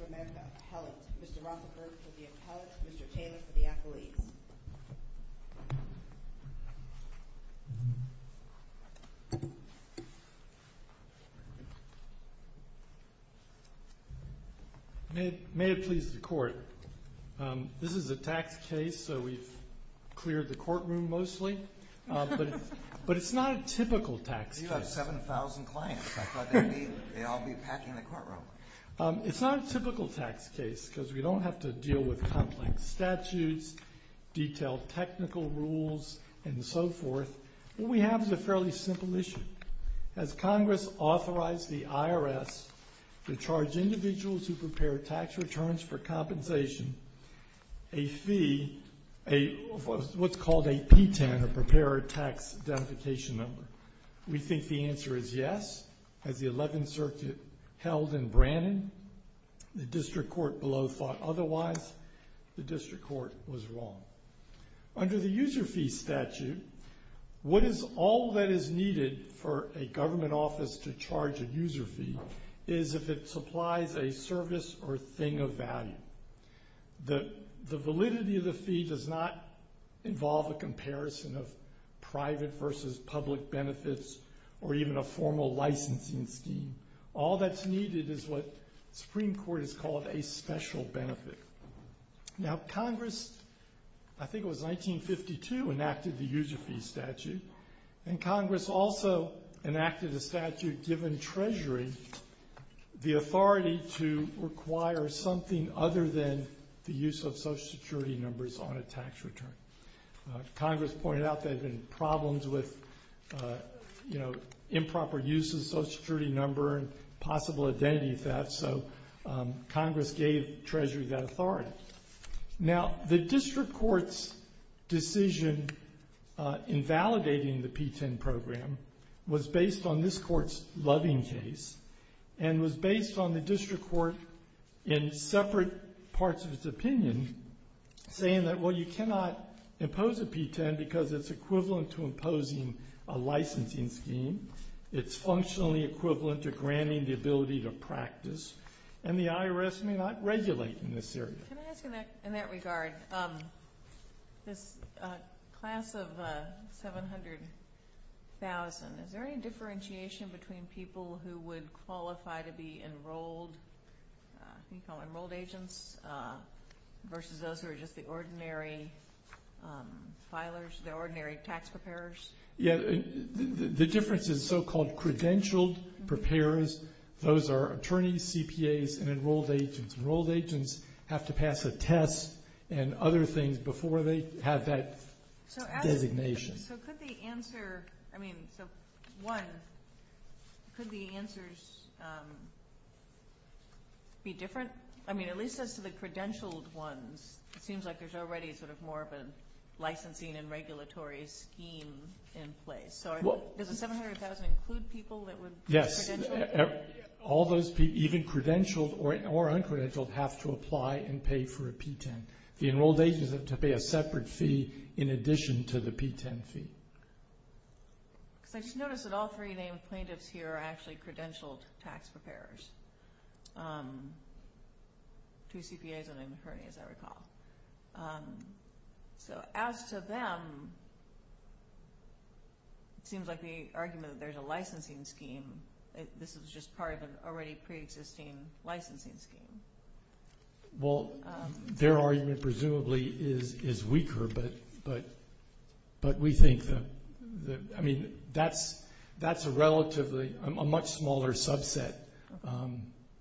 of America, appellate. Mr. Rothenberg for the appellate, Mr. Taylor for the accolades. May it please the court, this is a tax case so we've cleared the courtroom mostly, but it's not a typical tax case. You have 7,000 clients, I thought they'd be, they'd all be packing the courtroom. It's not a typical tax case because we don't have to deal with complex statutes, detailed technical rules, and so forth. What we have is a fairly simple issue. Has Congress authorized the IRS to charge individuals who prepare tax returns for compensation a fee, what's called a P-10, a preparer tax identification number? We think the answer is yes. As the 11th Circuit held in Brannon, the district court below thought otherwise. The district court was wrong. Under the user fee statute, what is all that is needed for a government office to charge a user fee is if it supplies a service or thing of value. The validity of the fee does not involve a comparison of private versus public benefits or even a formal licensing scheme. All that's needed is what the Supreme Court has called a special benefit. Now Congress, I think it was 1952, enacted the user fee statute, and Congress also enacted a statute giving Treasury the authority to require something other than the use of Social Security numbers on a tax return. Congress pointed out there had been problems with improper use of Social Security number and possible identity theft, so Congress gave Treasury that authority. Now the district court's decision, in fact validating the P-10 program, was based on this court's loving case and was based on the district court in separate parts of its opinion saying that, well, you cannot impose a P-10 because it's equivalent to imposing a licensing scheme, it's functionally equivalent to granting the ability to practice, and the IRS may not regulate in this area. Can I ask in that regard, this class of 700,000, is there any differentiation between people who would qualify to be enrolled, I think called enrolled agents, versus those who are just the ordinary filers, the ordinary tax preparers? The difference is so-called credentialed preparers, those are attorneys, CPAs, and enrolled agents. Enrolled agents have to pass a test and other things before they have that designation. So could the answer, I mean, so one, could the answers be different? I mean, at least as to the credentialed ones, it seems like there's already sort of more of a licensing and regulatory scheme in place. So does the 700,000 include people that would be credentialed? All those people, even credentialed or uncredentialed, have to apply and pay for a P-10. The enrolled agents have to pay a separate fee in addition to the P-10 fee. Because I just noticed that all three named plaintiffs here are actually credentialed tax preparers. Two CPAs and an attorney, as I recall. So as to them, it seems like the licensing scheme, this is just part of an already pre-existing licensing scheme. Well, their argument presumably is weaker, but we think that, I mean, that's a relatively, a much smaller subset.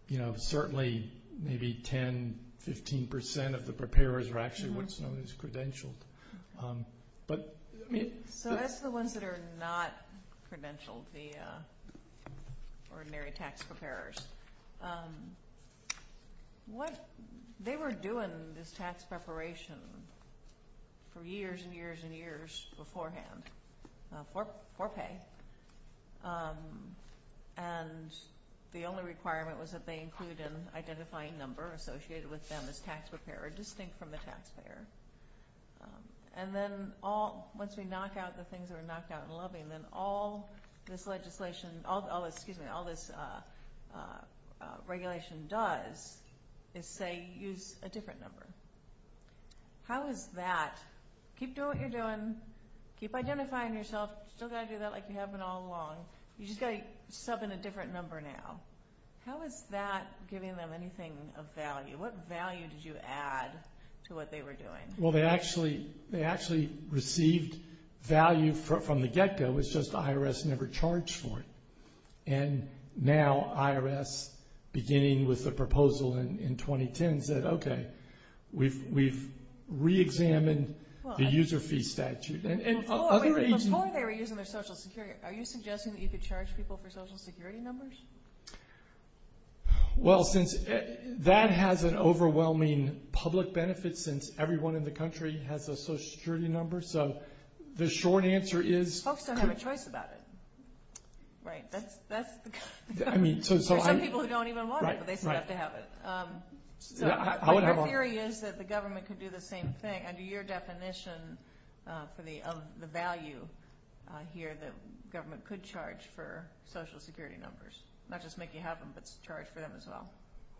You know, certainly maybe 10, 15% of the preparers are actually what's known as credentialed. So as to the ones that are not credentialed, the ordinary tax preparers, they were doing this tax preparation for years and years and years beforehand for pay. And the only requirement was that they include an identifying number associated with them as tax preparer distinct from the taxpayer. And then once we knock out the things that are knocked out and loving, then all this legislation, excuse me, all this regulation does is say use a different number. How is that, keep doing what you're doing, keep identifying yourself, you still got to do that like you have been all along, you just got to sub in a different number now. How is that giving them anything of value? What value did you add to what they were doing? Well, they actually received value from the get-go, it's just IRS never charged for it. And now IRS, beginning with the proposal in 2010, said, okay, we've re-examined the user fee statute. Before they were using their social security, are you suggesting that you could charge people for social security numbers? Well, since that has an overwhelming public benefit since everyone in the country has a social security number, so the short answer is... Folks don't have a choice about it. There's some people who don't even want it, but they still have to have it. Our theory is that the government could do the same thing. Under your definition of the value, the government could charge for social security numbers. Not just make you have them, but charge for them as well.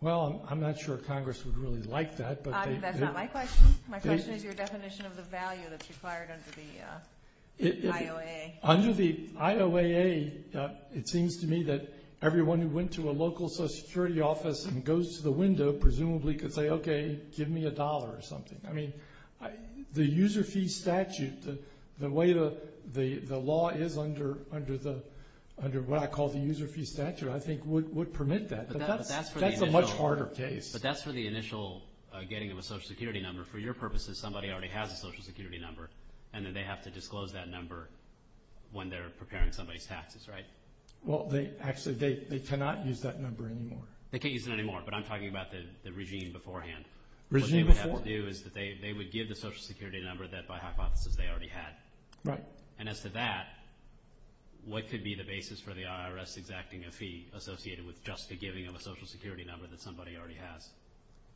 Well, I'm not sure Congress would really like that. That's not my question. My question is your definition of the value that's required under the IOAA. Under the IOAA, it seems to me that everyone who went to a local social security office and goes to the window, presumably could say, okay, give me a dollar or something. The user fee statute, I think, would permit that, but that's a much harder case. But that's for the initial getting of a social security number. For your purposes, somebody already has a social security number, and then they have to disclose that number when they're preparing somebody's taxes, right? Well, actually, they cannot use that number anymore. They can't use it anymore, but I'm talking about the regime beforehand. Regime before? What they would have to do is they would give the social security number that, by hypothesis, they already had. Right. And as to that, what could be the basis for the IRS exacting a fee associated with just the giving of a social security number that somebody already has?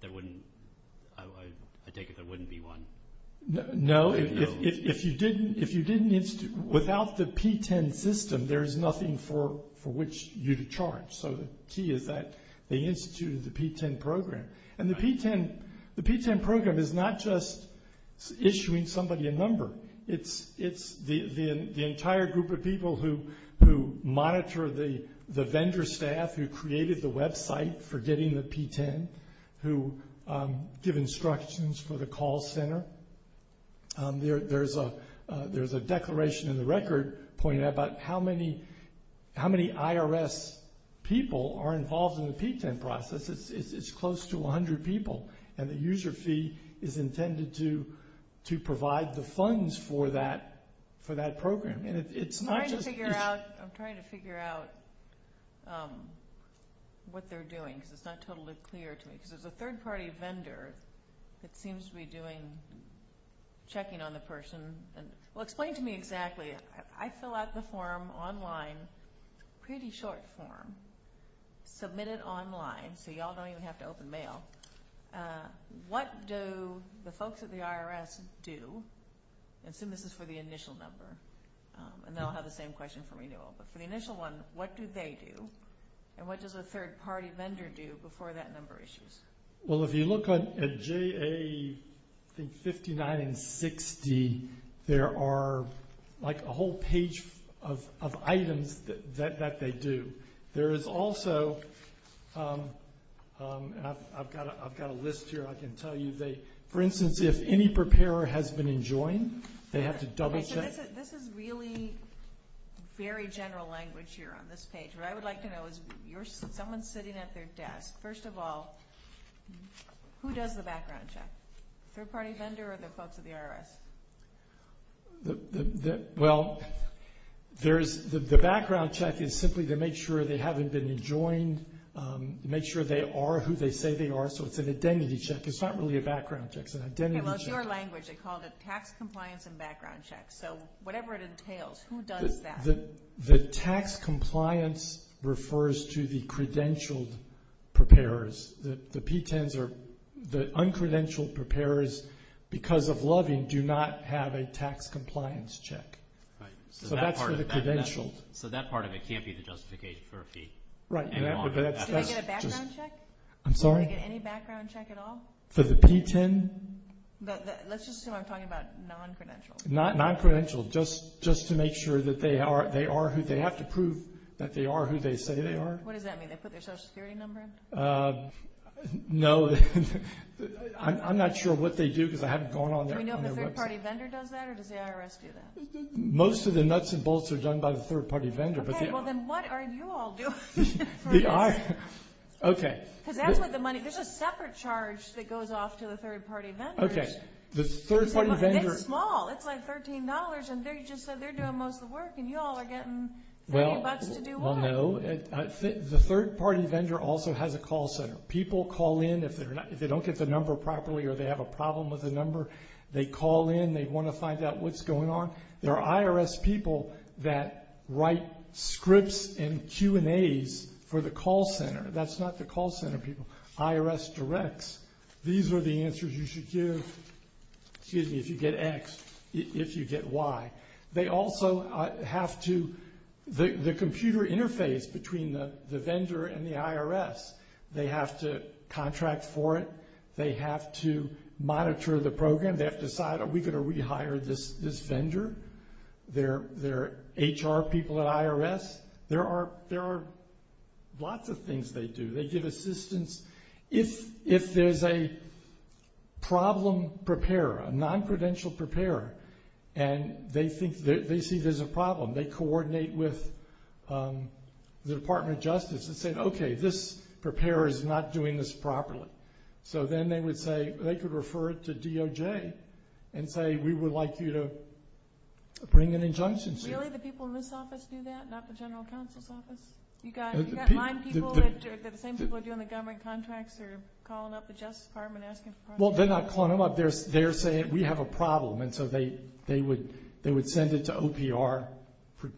I take it there wouldn't be one. No. No? Without the P-10 system, there is nothing for which you to charge. So the key is that they instituted the P-10 program. Right. The P-10 program is not just issuing somebody a number. It's the entire group of people who monitor the vendor staff who created the website for getting the P-10, who give instructions for the call center. There's a declaration in the record pointing out about how many IRS people are involved in the P-10 process. It's close to 100 people, and the user fee is intended to provide the funds for that program. I'm trying to figure out what they're doing because it's not totally clear to me. There's a third-party vendor that seems to be checking on the person. Explain to me exactly. I fill out the form online. It's a pretty short form. Submit it online, so you all don't even have to open mail. What do the folks at the IRS do? Assume this is for the initial number, and they'll have the same question for renewal. For the initial one, what do they do? And what does a third-party vendor do before that number issues? Well, if you look at JA 59 and 60, there are a whole page of items that they do. There is also, and I've got a list here I can tell you. For instance, if any preparer has been enjoined, they have to double-check. This is really very general language here on this page. What I would like to know is someone sitting at their desk. First of all, who does the background check? Third-party vendor or the folks at the IRS? Well, the background check is simply to make sure they haven't been enjoined, to make sure they are who they say they are, so it's an identity check. It's not really a background check. It's an identity check. Okay, well, it's your language. They called it tax compliance and background check. So whatever it entails, who does that? The tax compliance refers to the credentialed preparers. The P-10s or the uncredentialed preparers, because of loving, do not have a tax compliance check. So that's for the credentialed. So that part of it can't be the justification for a fee? Right. Do they get a background check? I'm sorry? Do they get any background check at all? For the P-10? Let's just assume I'm talking about non-credentialed. Non-credentialed, just to make sure that they are who they have to prove that they are who they say they are. What does that mean? They put their Social Security number in? No. I'm not sure what they do because I haven't gone on their website. Do we know if the third-party vendor does that or does the IRS do that? Most of the nuts and bolts are done by the third-party vendor. Okay, well, then what are you all doing? Because that's what the money – there's a separate charge that goes off to the third-party vendors. It's small. It's like $13, and they just said they're doing most of the work, and you all are getting 30 bucks to do what? Well, no. The third-party vendor also has a call center. People call in if they don't get the number properly or they have a problem with the number. They call in. They want to find out what's going on. There are IRS people that write scripts and Q&As for the call center. That's not the call center people. These are the answers you should give if you get X, if you get Y. They also have to – the computer interface between the vendor and the IRS, they have to contract for it. They have to monitor the program. They have to decide, are we going to rehire this vendor? There are HR people at IRS. There are lots of things they do. They give assistance. If there's a problem preparer, a non-credential preparer, and they see there's a problem, they coordinate with the Department of Justice and say, okay, this preparer is not doing this properly. So then they would say – they could refer it to DOJ and say, we would like you to bring an injunction. Really? The people in this office do that, not the general counsel's office? You've got line people that are the same people that are doing the government contracts or calling up the Justice Department asking for – Well, they're not calling them up. They're saying, we have a problem, and so they would send it to OPR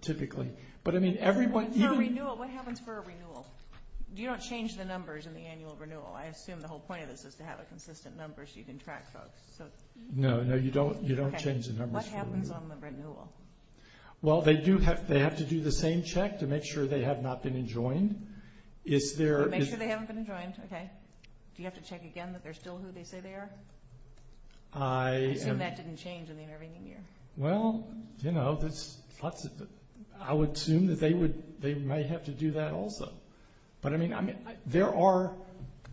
typically. But, I mean, everyone – What happens for a renewal? You don't change the numbers in the annual renewal. I assume the whole point of this is to have a consistent number so you can track folks. No, no, you don't change the numbers for a renewal. What happens on the renewal? Well, they have to do the same check to make sure they have not been enjoined. Make sure they haven't been enjoined, okay. Do you have to check again that they're still who they say they are? I assume that didn't change in the intervening year. Well, you know, I would assume that they might have to do that also. But, I mean, there are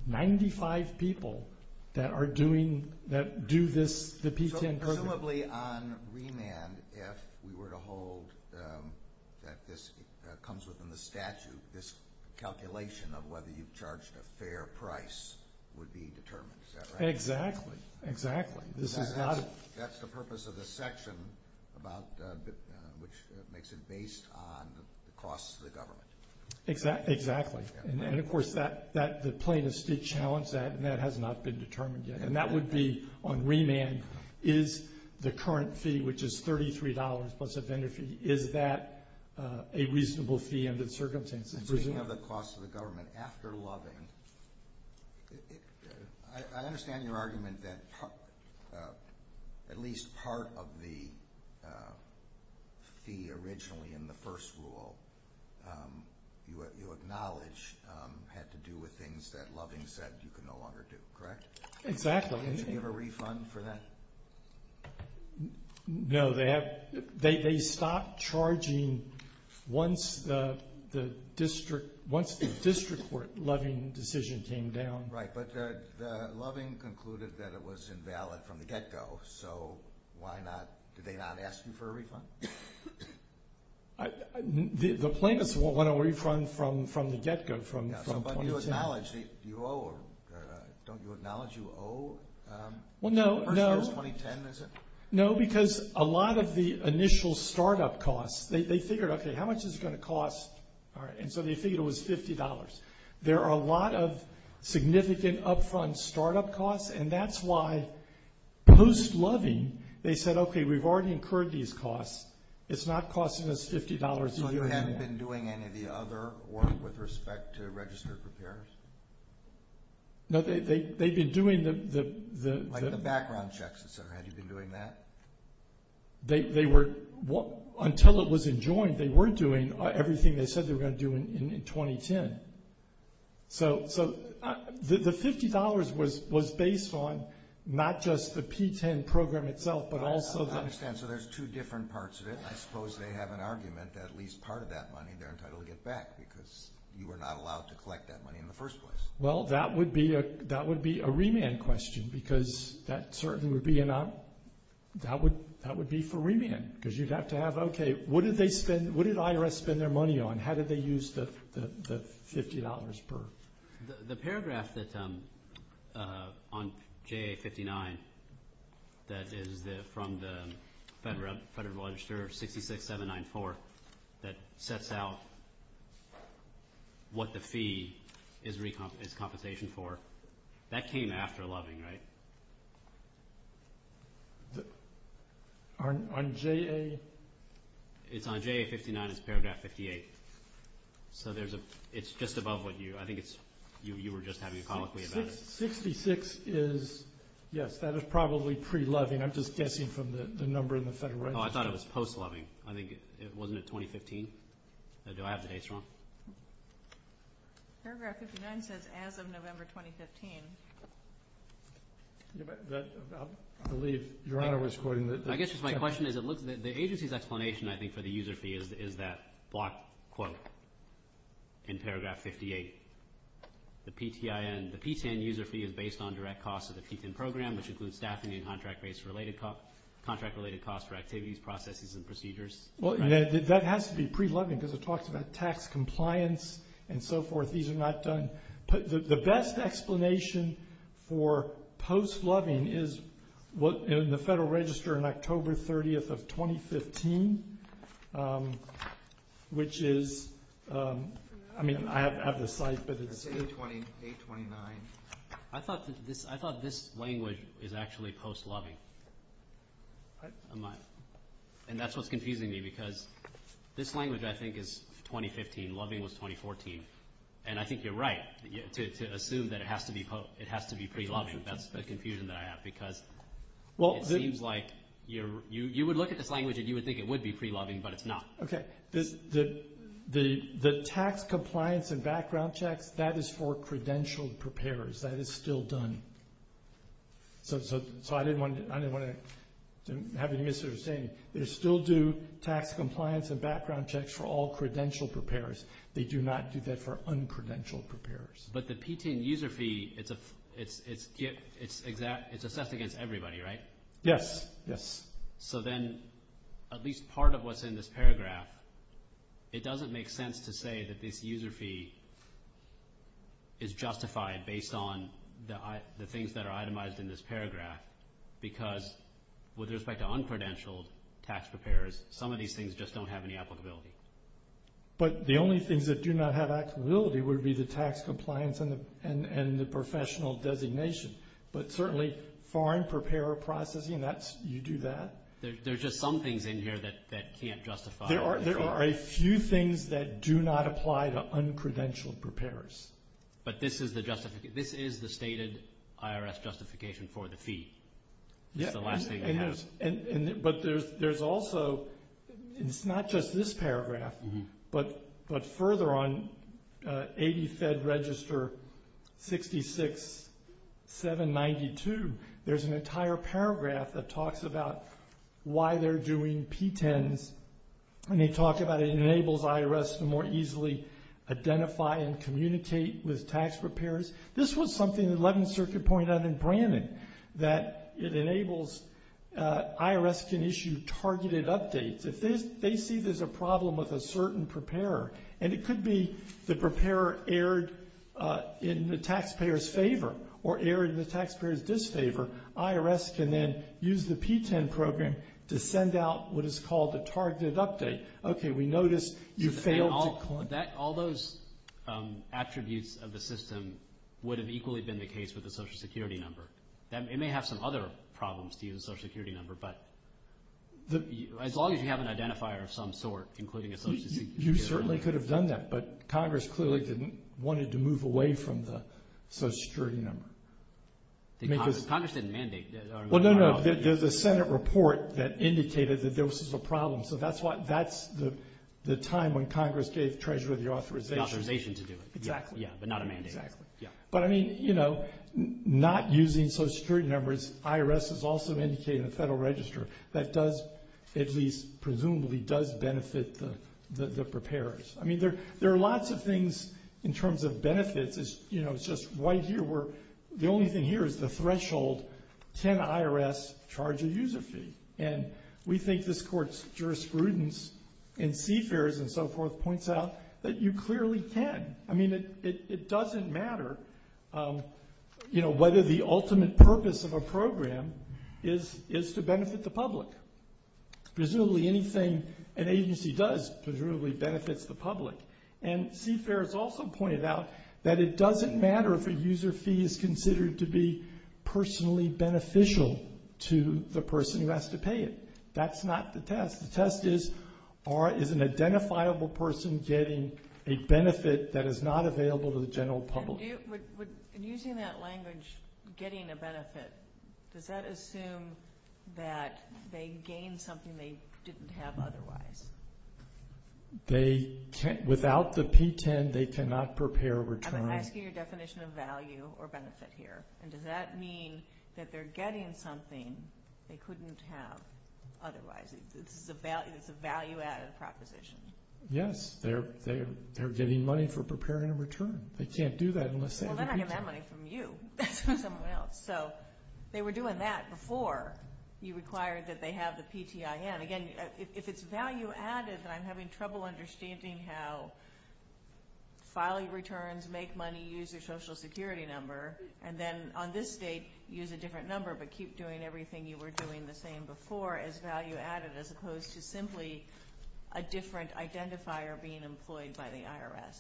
95 people that are doing – that do this, the P-10 program. Presumably on remand, if we were to hold that this comes within the statute, this calculation of whether you've charged a fair price would be determined, is that right? Exactly, exactly. That's the purpose of the section, which makes it based on the costs to the government. Exactly, and, of course, the plaintiffs did challenge that, and that has not been determined yet. And that would be on remand, is the current fee, which is $33 plus a vendor fee, is that a reasonable fee under the circumstances? Speaking of the costs to the government, after loving, I understand your argument that at least part of the fee originally in the first rule you acknowledge had to do with things that loving said you could no longer do, correct? Exactly. Did you give a refund for that? No, they stopped charging once the district court loving decision came down. Right, but the loving concluded that it was invalid from the get-go, so why not – did they not ask you for a refund? The plaintiffs want a refund from the get-go, from 2010. Don't you acknowledge you owe the first year's 2010, is it? No, because a lot of the initial start-up costs, they figured, okay, how much is it going to cost? And so they figured it was $50. There are a lot of significant up-front start-up costs, and that's why post-loving they said, okay, we've already incurred these costs. It's not costing us $50. So you haven't been doing any of the other work with respect to registered repairs? No, they've been doing the – Like the background checks, et cetera. Have you been doing that? They were – until it was enjoined, they were doing everything they said they were going to do in 2010. So the $50 was based on not just the P-10 program itself but also the – I understand. So there's two different parts of it. I suppose they have an argument that at least part of that money they're entitled to get back because you were not allowed to collect that money in the first place. Well, that would be a remand question because that certainly would be an – that would be for remand because you'd have to have, okay, what did they spend – what did IRS spend their money on? How did they use the $50 per – The paragraph on JA-59 that is from the Federal Register 66-794 that sets out what the fee is compensation for, that came after loving, right? On JA? It's on JA-59, it's paragraph 58. So there's a – it's just above what you – I think it's – you were just having a colloquy about it. 66 is – yes, that is probably pre-loving. I'm just guessing from the number in the Federal Register. Oh, I thought it was post-loving. I think it – wasn't it 2015? Do I have the dates wrong? Paragraph 59 says as of November 2015. I believe Your Honor was quoting the – I guess just my question is it looks – the agency's explanation, I think, for the user fee is that block quote in paragraph 58, the PTIN. The PTIN user fee is based on direct costs of the PTIN program, which includes staffing and contract-related costs for activities, processes, and procedures. Well, that has to be pre-loving because it talks about tax compliance and so forth. These are not done. The best explanation for post-loving is in the Federal Register on October 30th of 2015, which is – I mean I have the site, but it's – It's 829. I thought this language is actually post-loving. And that's what's confusing me because this language I think is 2015. Loving was 2014. And I think you're right to assume that it has to be pre-loving. That's the confusion that I have because it seems like you would look at this language and you would think it would be pre-loving, but it's not. Okay. The tax compliance and background checks, that is for credentialed preparers. That is still done. So I didn't want to have any misunderstanding. They still do tax compliance and background checks for all credentialed preparers. They do not do that for uncredentialed preparers. But the PTN user fee, it's assessed against everybody, right? Yes, yes. So then at least part of what's in this paragraph, it doesn't make sense to say that this user fee is justified based on the things that are itemized in this paragraph because with respect to uncredentialed tax preparers, some of these things just don't have any applicability. But the only things that do not have applicability would be the tax compliance and the professional designation. But certainly foreign preparer processing, you do that. There's just some things in here that can't justify. There are a few things that do not apply to uncredentialed preparers. But this is the stated IRS justification for the fee. It's the last thing they have. But there's also, it's not just this paragraph, but further on 80 Fed Register 66-792, there's an entire paragraph that talks about why they're doing PTNs. And they talk about it enables IRS to more easily identify and communicate with tax preparers. And that it enables IRS can issue targeted updates. If they see there's a problem with a certain preparer, and it could be the preparer erred in the taxpayer's favor or erred in the taxpayer's disfavor, IRS can then use the PTEN program to send out what is called a targeted update. Okay, we notice you failed to... All those attributes of the system would have equally been the case with the Social Security number. It may have some other problems to use the Social Security number, but as long as you have an identifier of some sort, including a Social Security number. You certainly could have done that, but Congress clearly didn't want it to move away from the Social Security number. Congress didn't mandate that. Well, no, no, there's a Senate report that indicated that there was a problem. So that's the time when Congress gave Treasurer the authorization. The authorization to do it. Exactly. Yeah, but not a mandate. Exactly. But, I mean, you know, not using Social Security numbers, IRS has also indicated in the Federal Register that does, at least presumably, does benefit the preparers. I mean, there are lots of things in terms of benefits. It's just right here where the only thing here is the threshold. Can IRS charge a user fee? And we think this Court's jurisprudence in CFERS and so forth points out that you clearly can. I mean, it doesn't matter, you know, whether the ultimate purpose of a program is to benefit the public. Presumably anything an agency does presumably benefits the public. And CFERS also pointed out that it doesn't matter if a user fee is considered to be personally beneficial to the person who has to pay it. That's not the test. The test is, is an identifiable person getting a benefit that is not available to the general public? And using that language, getting a benefit, does that assume that they gained something they didn't have otherwise? Without the P-10, they cannot prepare a return. I'm asking your definition of value or benefit here. And does that mean that they're getting something they couldn't have otherwise? It's a value-added proposition. Yes. They're getting money for preparing a return. They can't do that unless they have a P-10. Well, they're not getting that money from you. It's from someone else. So they were doing that before you required that they have the P-10. Again, if it's value-added, then I'm having trouble understanding how filing returns, make money, use your Social Security number, and then on this date use a different number but keep doing everything you were doing the same before as value-added as opposed to simply a different identifier being employed by the IRS.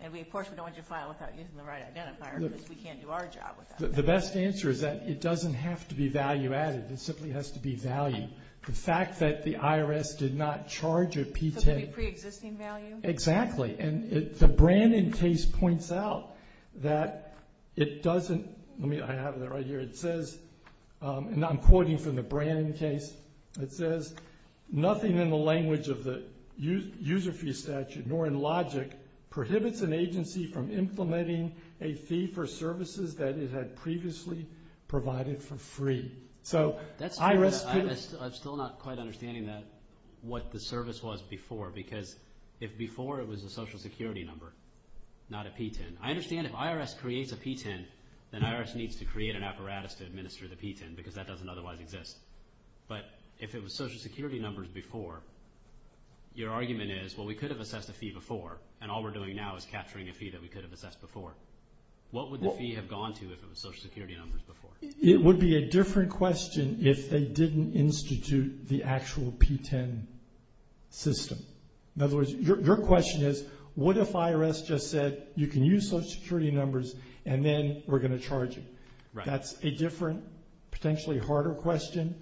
And, of course, we don't want you to file without using the right identifier because we can't do our job without it. The best answer is that it doesn't have to be value-added. It simply has to be value. The fact that the IRS did not charge a P-10. So it could be pre-existing value? Exactly. And the Brannon case points out that it doesn't – let me have that right here. It says, and I'm quoting from the Brannon case. It says, nothing in the language of the user fee statute nor in logic prohibits an agency from implementing a fee for services that it had previously provided for free. I'm still not quite understanding what the service was before because if before it was a Social Security number, not a P-10. I understand if IRS creates a P-10, then IRS needs to create an apparatus to administer the P-10 because that doesn't otherwise exist. But if it was Social Security numbers before, your argument is, well, we could have assessed a fee before, and all we're doing now is capturing a fee that we could have assessed before. What would the fee have gone to if it was Social Security numbers before? It would be a different question if they didn't institute the actual P-10 system. In other words, your question is, what if IRS just said you can use Social Security numbers and then we're going to charge you? That's a different, potentially harder question.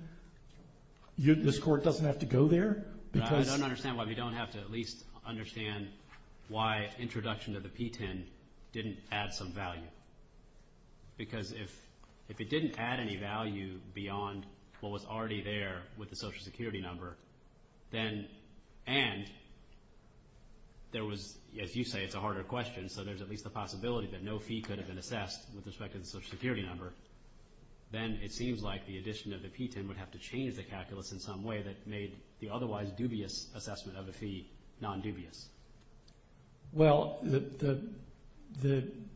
This Court doesn't have to go there. I don't understand why we don't have to at least understand why introduction of the P-10 didn't add some value because if it didn't add any value beyond what was already there with the Social Security number, and there was, as you say, it's a harder question, so there's at least a possibility that no fee could have been assessed with respect to the Social Security number, then it seems like the addition of the P-10 would have to change the calculus in some way that made the otherwise dubious assessment of a fee non-dubious. Well, the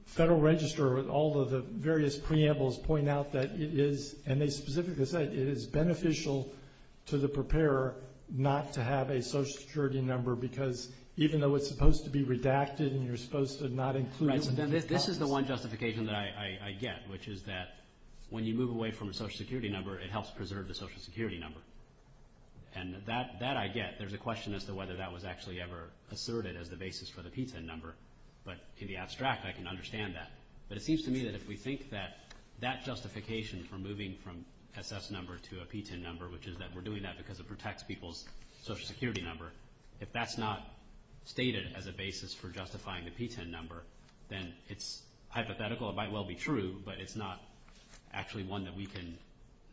Federal Register, all of the various preambles point out that it is, and they specifically say it is beneficial to the preparer not to have a Social Security number because even though it's supposed to be redacted and you're supposed to not include it in the calculus. This is the one justification that I get, which is that when you move away from a Social Security number, it helps preserve the Social Security number, and that I get. There's a question as to whether that was actually ever asserted as the basis for the P-10 number, but to be abstract, I can understand that. But it seems to me that if we think that that justification for moving from SS number to a P-10 number, which is that we're doing that because it protects people's Social Security number, if that's not stated as a basis for justifying the P-10 number, then it's hypothetical, it might well be true, but it's not actually one that we can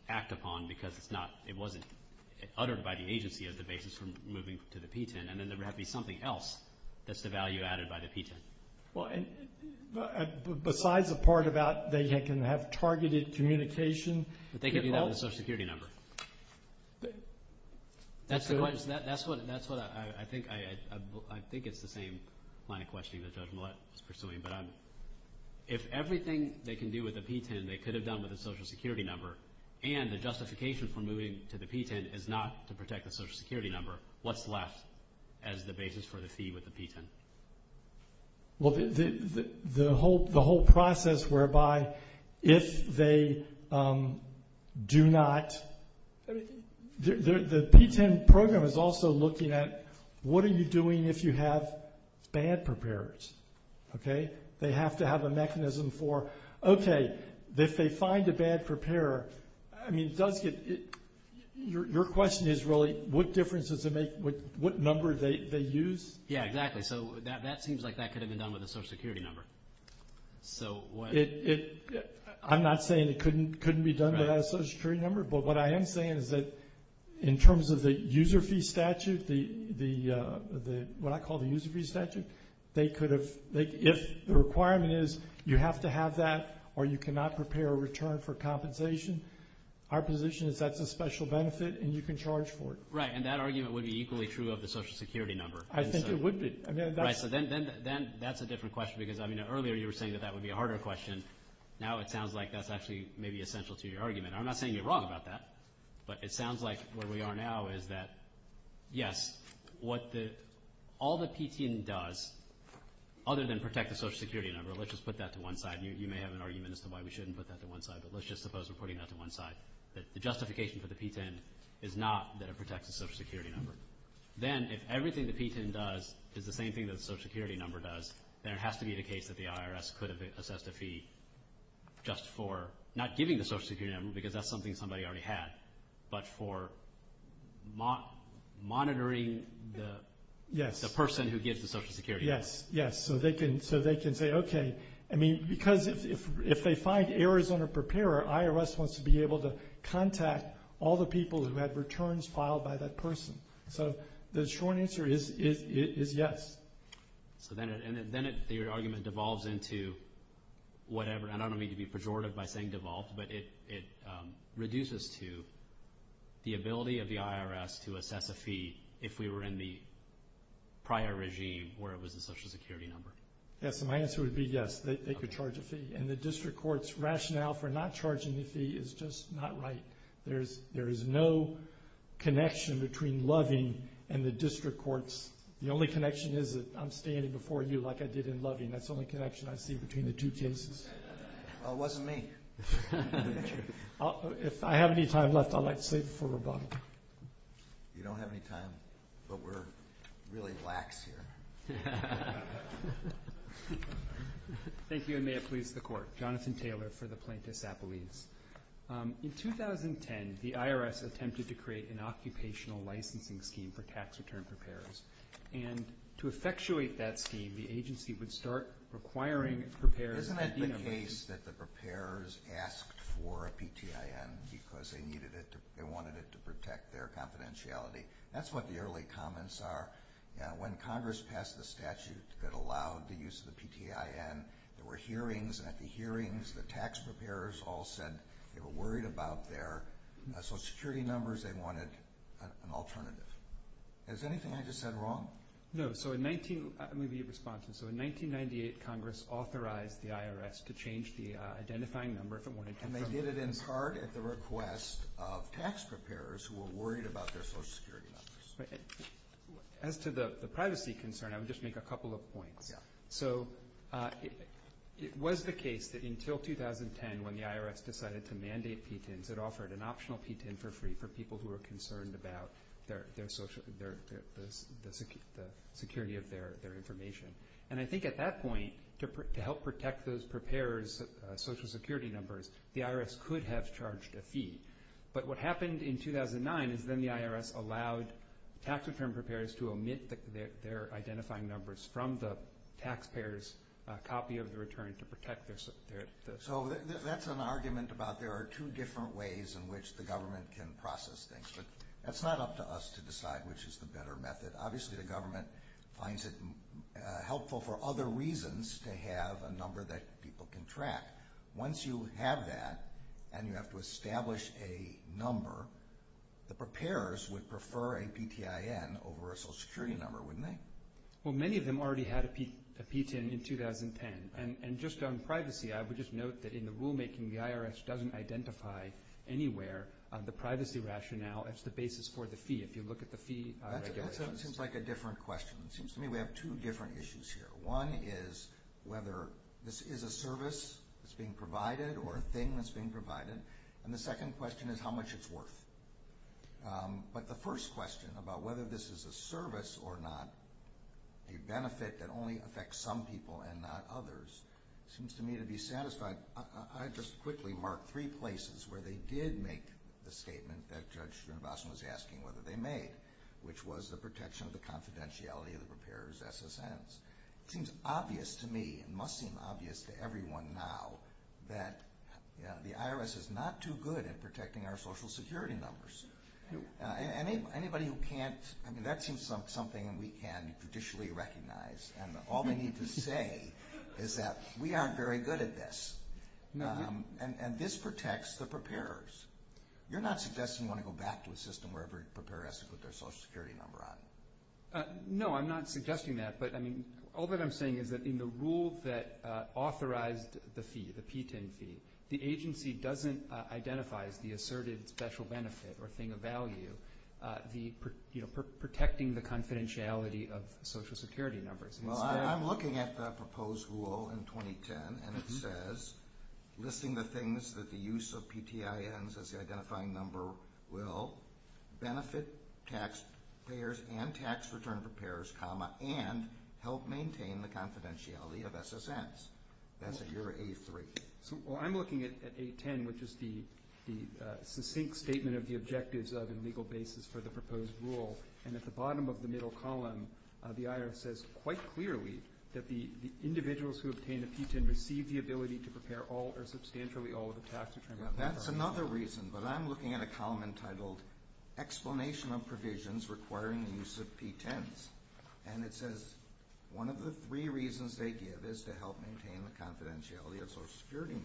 act upon because it wasn't uttered by the agency as the basis for moving to the P-10, and then there would have to be something else that's the value added by the P-10. Well, besides the part about they can have targeted communication, but they can do that with a Social Security number. That's what I think it's the same line of questioning that Judge Millett is pursuing, but if everything they can do with a P-10, they could have done with a Social Security number, and the justification for moving to the P-10 is not to protect the Social Security number, what's left as the basis for the fee with the P-10. Well, the whole process whereby if they do not, the P-10 program is also looking at what are you doing if you have bad preparers, okay? They have to have a mechanism for, okay, if they find a bad preparer, I mean, it does get, your question is really what difference does it make, what number they use? Yeah, exactly. So that seems like that could have been done with a Social Security number. I'm not saying it couldn't be done without a Social Security number, but what I am saying is that in terms of the user fee statute, what I call the user fee statute, they could have, if the requirement is you have to have that or you cannot prepare a return for compensation, our position is that's a special benefit and you can charge for it. Right, and that argument would be equally true of the Social Security number. I think it would be. Right, so then that's a different question because, I mean, earlier you were saying that that would be a harder question. Now it sounds like that's actually maybe essential to your argument. I'm not saying you're wrong about that, but it sounds like where we are now is that, yes, what all the P-10 does other than protect the Social Security number, let's just put that to one side. You may have an argument as to why we shouldn't put that to one side, but let's just suppose we're putting that to one side, that the justification for the P-10 is not that it protects the Social Security number. Then if everything the P-10 does is the same thing that the Social Security number does, then it has to be the case that the IRS could have assessed a fee just for not giving the Social Security number because that's something somebody already had, but for monitoring the person who gives the Social Security number. Yes, yes. So they can say, okay, I mean, because if they find errors on a preparer, IRS wants to be able to contact all the people who had returns filed by that person. So the short answer is yes. So then your argument devolves into whatever. I don't mean to be pejorative by saying devolved, but it reduces to the ability of the IRS to assess a fee if we were in the prior regime where it was the Social Security number. Yes, my answer would be yes, they could charge a fee. And the district court's rationale for not charging the fee is just not right. There is no connection between Loving and the district courts. The only connection is that I'm standing before you like I did in Loving. That's the only connection I see between the two cases. Well, it wasn't me. If I have any time left, I'd like to save it for rebuttal. You don't have any time, but we're really lax here. Thank you, and may it please the Court. Jonathan Taylor for the Plaintiff's Appellate. In 2010, the IRS attempted to create an occupational licensing scheme for tax return preparers. And to effectuate that scheme, the agency would start requiring preparers. Isn't it the case that the preparers asked for a PTIN because they wanted it to protect their confidentiality? That's what the early comments are. When Congress passed the statute that allowed the use of the PTIN, there were hearings, and at the hearings, the tax preparers all said they were worried about their Social Security numbers. They wanted an alternative. Is anything I just said wrong? No. So in 1998, Congress authorized the IRS to change the identifying number if it wanted to. And they did it in part at the request of tax preparers who were worried about their Social Security numbers. As to the privacy concern, I would just make a couple of points. So it was the case that until 2010 when the IRS decided to mandate PTINs, it offered an optional PTIN for free for people who were concerned about the security of their information. And I think at that point, to help protect those preparers' Social Security numbers, the IRS could have charged a fee. But what happened in 2009 is then the IRS allowed tax preparers to omit their identifying numbers from the taxpayer's copy of the return to protect their ______. So that's an argument about there are two different ways in which the government can process things. But that's not up to us to decide which is the better method. Obviously, the government finds it helpful for other reasons to have a number that people can track. Once you have that and you have to establish a number, the preparers would prefer a PTIN over a Social Security number, wouldn't they? Well, many of them already had a PTIN in 2010. And just on privacy, I would just note that in the rulemaking, the IRS doesn't identify anywhere the privacy rationale as the basis for the fee if you look at the fee regulations. That seems like a different question. It seems to me we have two different issues here. One is whether this is a service that's being provided or a thing that's being provided. And the second question is how much it's worth. But the first question about whether this is a service or not, a benefit that only affects some people and not others, seems to me to be satisfied. I just quickly marked three places where they did make the statement that Judge Srinivasan was asking whether they made, which was the protection of the confidentiality of the preparer's SSNs. It seems obvious to me, it must seem obvious to everyone now, that the IRS is not too good at protecting our Social Security numbers. Anybody who can't, I mean, that seems something we can judicially recognize. And all they need to say is that we aren't very good at this. And this protects the preparers. You're not suggesting you want to go back to a system where every preparer has to put their Social Security number on? No, I'm not suggesting that. But all that I'm saying is that in the rule that authorized the fee, the PTIN fee, the agency doesn't identify as the asserted special benefit or thing of value protecting the confidentiality of Social Security numbers. Well, I'm looking at the proposed rule in 2010, and it says, listing the things that the use of PTINs as the identifying number will, benefit tax payers and tax return preparers, and help maintain the confidentiality of SSNs. That's at your A3. Well, I'm looking at A10, which is the succinct statement of the objectives of and legal basis for the proposed rule. And at the bottom of the middle column, the IRS says quite clearly that the individuals who obtain a PTIN receive the ability to prepare all or substantially all of the tax return preparers. That's another reason, but I'm looking at a column entitled Explanation of Provisions Requiring the Use of PTINs. And it says one of the three reasons they give is to help maintain the confidentiality of SSNs.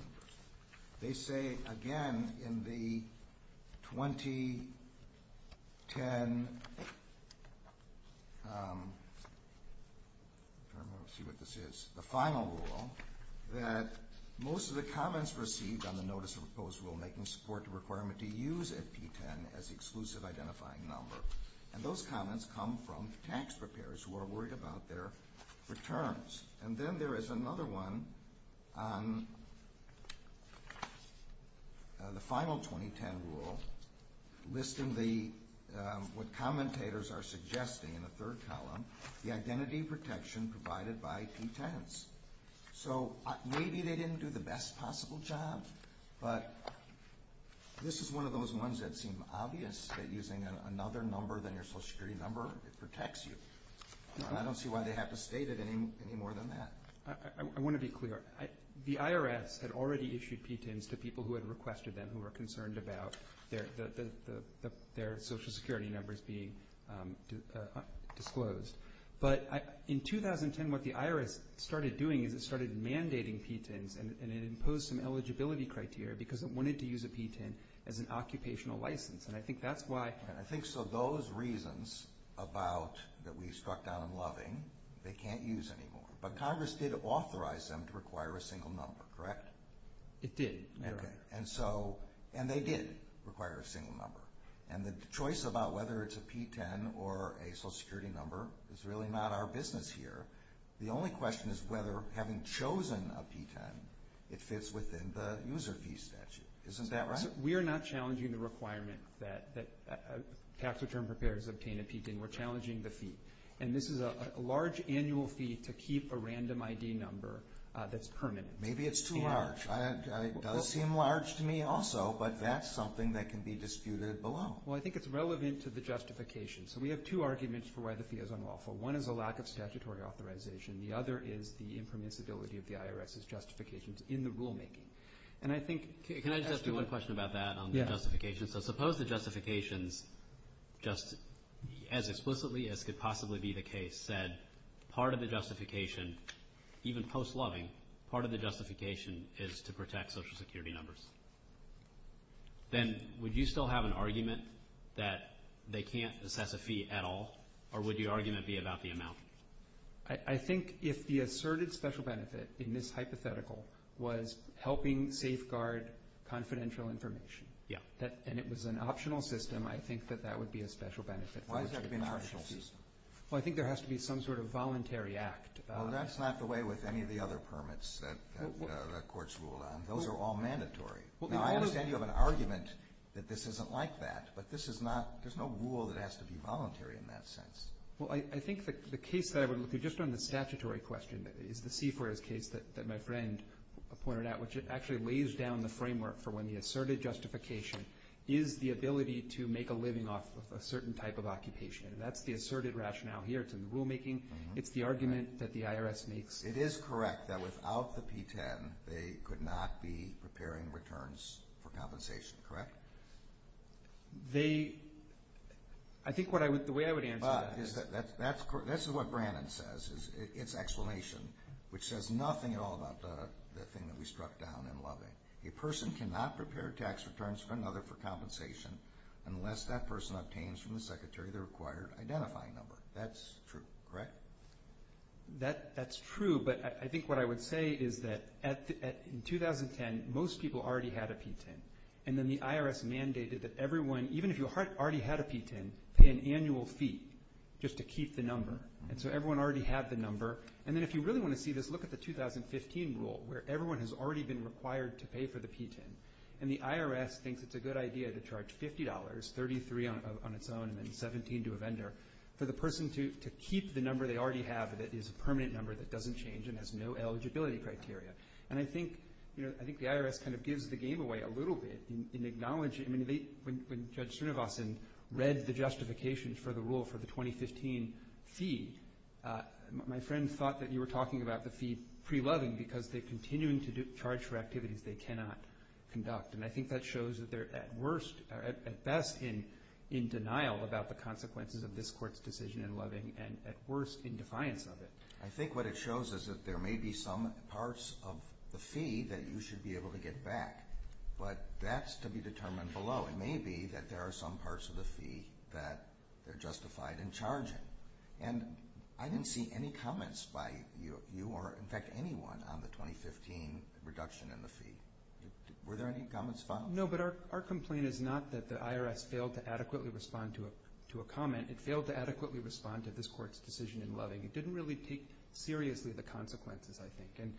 They say, again, in the 2010, I don't know, let's see what this is, the final rule, that most of the comments received on the Notice of Proposed Rule making support the requirement to use a PTIN as the exclusive identifying number. And those comments come from tax preparers who are worried about their returns. And then there is another one on the final 2010 rule, listing what commentators are suggesting in the third column, the identity protection provided by PTINs. So maybe they didn't do the best possible job, but this is one of those ones that seem obvious that using another number than your Social Security number protects you. I don't see why they have to state it any more than that. I want to be clear. The IRS had already issued PTINs to people who had requested them, who were concerned about their Social Security numbers being disclosed. But in 2010, what the IRS started doing is it started mandating PTINs and it imposed some eligibility criteria because it wanted to use a PTIN as an occupational license. I think those reasons that we struck down in Loving, they can't use anymore. But Congress did authorize them to require a single number, correct? It did. And they did require a single number. And the choice about whether it's a PTIN or a Social Security number is really not our business here. The only question is whether, having chosen a PTIN, it fits within the user fee statute. Isn't that right? We are not challenging the requirement that tax return preparers obtain a PTIN. We're challenging the fee. And this is a large annual fee to keep a random ID number that's permanent. Maybe it's too large. It does seem large to me also, but that's something that can be disputed below. Well, I think it's relevant to the justification. So we have two arguments for why the fee is unlawful. One is a lack of statutory authorization. The other is the impermissibility of the IRS's justifications in the rulemaking. Can I just ask you one question about that on the justification? So suppose the justifications just as explicitly as could possibly be the case said part of the justification, even post-loving, part of the justification is to protect Social Security numbers. Then would you still have an argument that they can't assess a fee at all, or would your argument be about the amount? I think if the asserted special benefit in this hypothetical was helping safeguard confidential information, and it was an optional system, I think that that would be a special benefit. Why does that have to be an optional system? Well, I think there has to be some sort of voluntary act. Well, that's not the way with any of the other permits that courts rule on. Those are all mandatory. Now, I understand you have an argument that this isn't like that, but there's no rule that has to be voluntary in that sense. Well, I think the case that I would look at just on the statutory question is the CFRS case that my friend pointed out, which actually lays down the framework for when the asserted justification is the ability to make a living off of a certain type of occupation. That's the asserted rationale here to the rulemaking. It's the argument that the IRS makes. It is correct that without the P-10, they could not be preparing returns for compensation, correct? I think the way I would answer that is... That's what Brannon says, its explanation, which says nothing at all about the thing that we struck down in Loving. A person cannot prepare tax returns for another for compensation unless that person obtains from the secretary the required identifying number. That's true, correct? That's true, but I think what I would say is that in 2010, most people already had a P-10, and then the IRS mandated that everyone, even if you already had a P-10, pay an annual fee just to keep the number, and so everyone already had the number. And then if you really want to see this, look at the 2015 rule, where everyone has already been required to pay for the P-10, and the IRS thinks it's a good idea to charge $50, $33 on its own, and then $17 to a vendor, for the person to keep the number they already have that is a permanent number that doesn't change and has no eligibility criteria. And I think the IRS kind of gives the game away a little bit in acknowledging, when Judge Srinivasan read the justification for the rule for the 2015 fee, my friend thought that you were talking about the fee pre-Loving because they're continuing to charge for activities they cannot conduct, and I think that shows that they're at best in denial about the consequences of this Court's decision in Loving and at worst in defiance of it. I think what it shows is that there may be some parts of the fee that you should be able to get back, but that's to be determined below. It may be that there are some parts of the fee that are justified in charging. And I didn't see any comments by you, or in fact anyone, on the 2015 reduction in the fee. Were there any comments found? No, but our complaint is not that the IRS failed to adequately respond to a comment. It failed to adequately respond to this Court's decision in Loving. It didn't really take seriously the consequences, I think.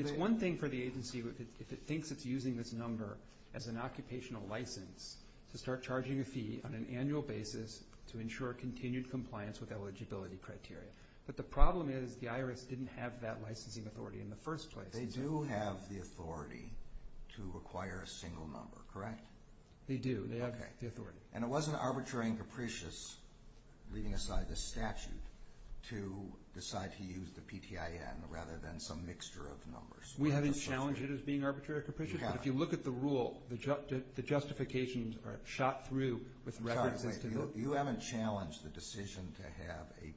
It's one thing for the agency, if it thinks it's using this number as an occupational license, to start charging a fee on an annual basis to ensure continued compliance with eligibility criteria. But the problem is the IRS didn't have that licensing authority in the first place. They do have the authority to acquire a single number, correct? They do. They have the authority. And it wasn't arbitrary and capricious, leaving aside the statute, to decide to use the PTIN rather than some mixture of numbers. We haven't challenged it as being arbitrary or capricious. But if you look at the rule, the justifications are shot through with references to those. You haven't challenged the decision to have a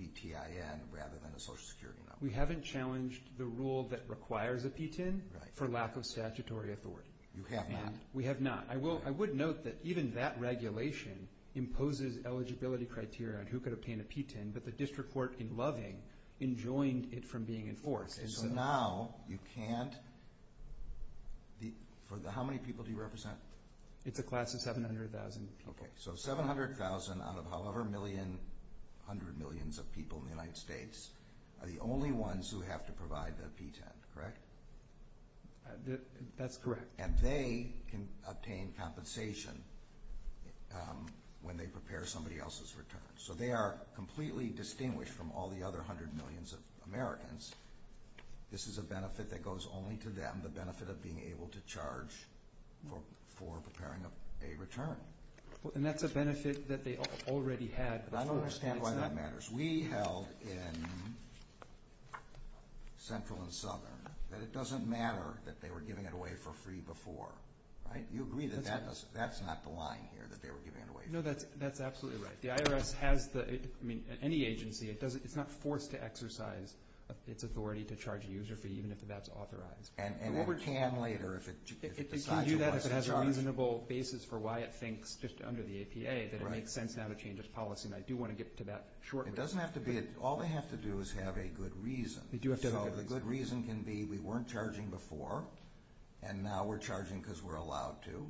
PTIN rather than a Social Security number. We haven't challenged the rule that requires a PTIN for lack of statutory authority. You have not. We have not. I would note that even that regulation imposes eligibility criteria on who could obtain a PTIN, but the district court in Loving enjoined it from being enforced. So now you can't? How many people do you represent? It's a class of 700,000 people. So 700,000 out of however many hundred millions of people in the United States are the only ones who have to provide the PTIN, correct? That's correct. And they can obtain compensation when they prepare somebody else's return. So they are completely distinguished from all the other hundred millions of Americans. This is a benefit that goes only to them, the benefit of being able to charge for preparing a return. And that's a benefit that they already had. I don't understand why that matters. We held in Central and Southern that it doesn't matter that they were giving it away for free before. You agree that that's not the line here, that they were giving it away for free? No, that's absolutely right. The IRS has the, I mean, any agency, it's not forced to exercise its authority to charge a user fee even if that's authorized. And it can later if it decides it wants to charge. It can do that if it has a reasonable basis for why it thinks, just under the APA, that it makes sense now to change its policy, and I do want to get to that shortly. But it doesn't have to be, all they have to do is have a good reason. So the good reason can be we weren't charging before, and now we're charging because we're allowed to.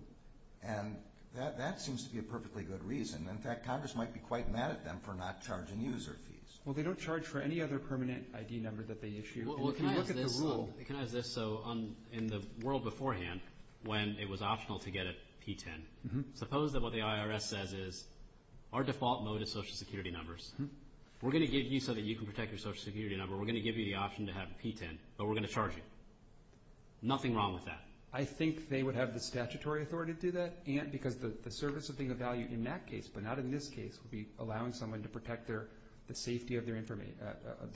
And that seems to be a perfectly good reason. In fact, Congress might be quite mad at them for not charging user fees. Well, they don't charge for any other permanent ID number that they issue. Well, can I ask this? So in the world beforehand, when it was optional to get a P-10, suppose that what the IRS says is our default mode is social security numbers. We're going to give you so that you can protect your social security number. We're going to give you the option to have a P-10, but we're going to charge you. Nothing wrong with that. I think they would have the statutory authority to do that, because the service of being of value in that case but not in this case would be allowing someone to protect the safety of their information.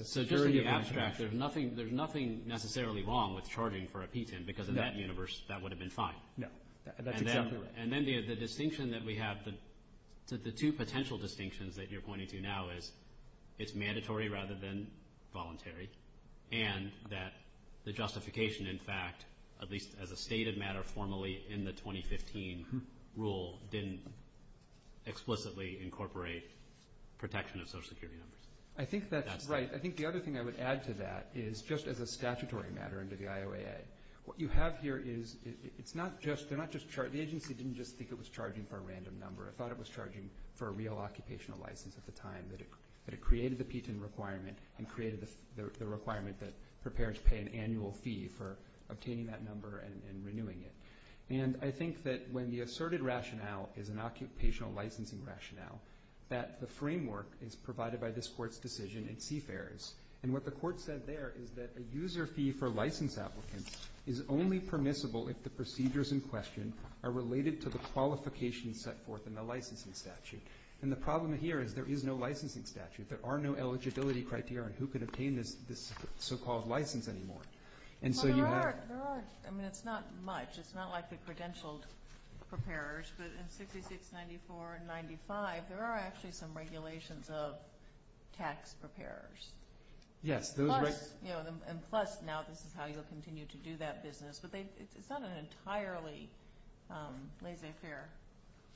So just to be abstract, there's nothing necessarily wrong with charging for a P-10 because in that universe that would have been fine. No, that's exactly right. And then the distinction that we have, the two potential distinctions that you're pointing to now is it's mandatory rather than voluntary, and that the justification, in fact, at least as a stated matter formally in the 2015 rule, didn't explicitly incorporate protection of social security numbers. I think that's right. I think the other thing I would add to that is just as a statutory matter under the IOAA, what you have here is it's not just, they're not just charging, the agency didn't just think it was charging for a random number. It thought it was charging for a real occupational license at the time, that it created the P-10 requirement and created the requirement that prepares to pay an annual fee for obtaining that number and renewing it. And I think that when the asserted rationale is an occupational licensing rationale, that the framework is provided by this Court's decision in CFARES, and what the Court said there is that a user fee for license applicants is only permissible if the procedures in question are related to the qualifications set forth in the licensing statute. And the problem here is there is no licensing statute. There are no eligibility criteria. Who could obtain this so-called license anymore? And so you have to. Well, there are. I mean, it's not much. It's not like the credentialed preparers. But in 6694 and 95, there are actually some regulations of tax preparers. Yes. And plus, now this is how you'll continue to do that business. But it's not an entirely laissez-faire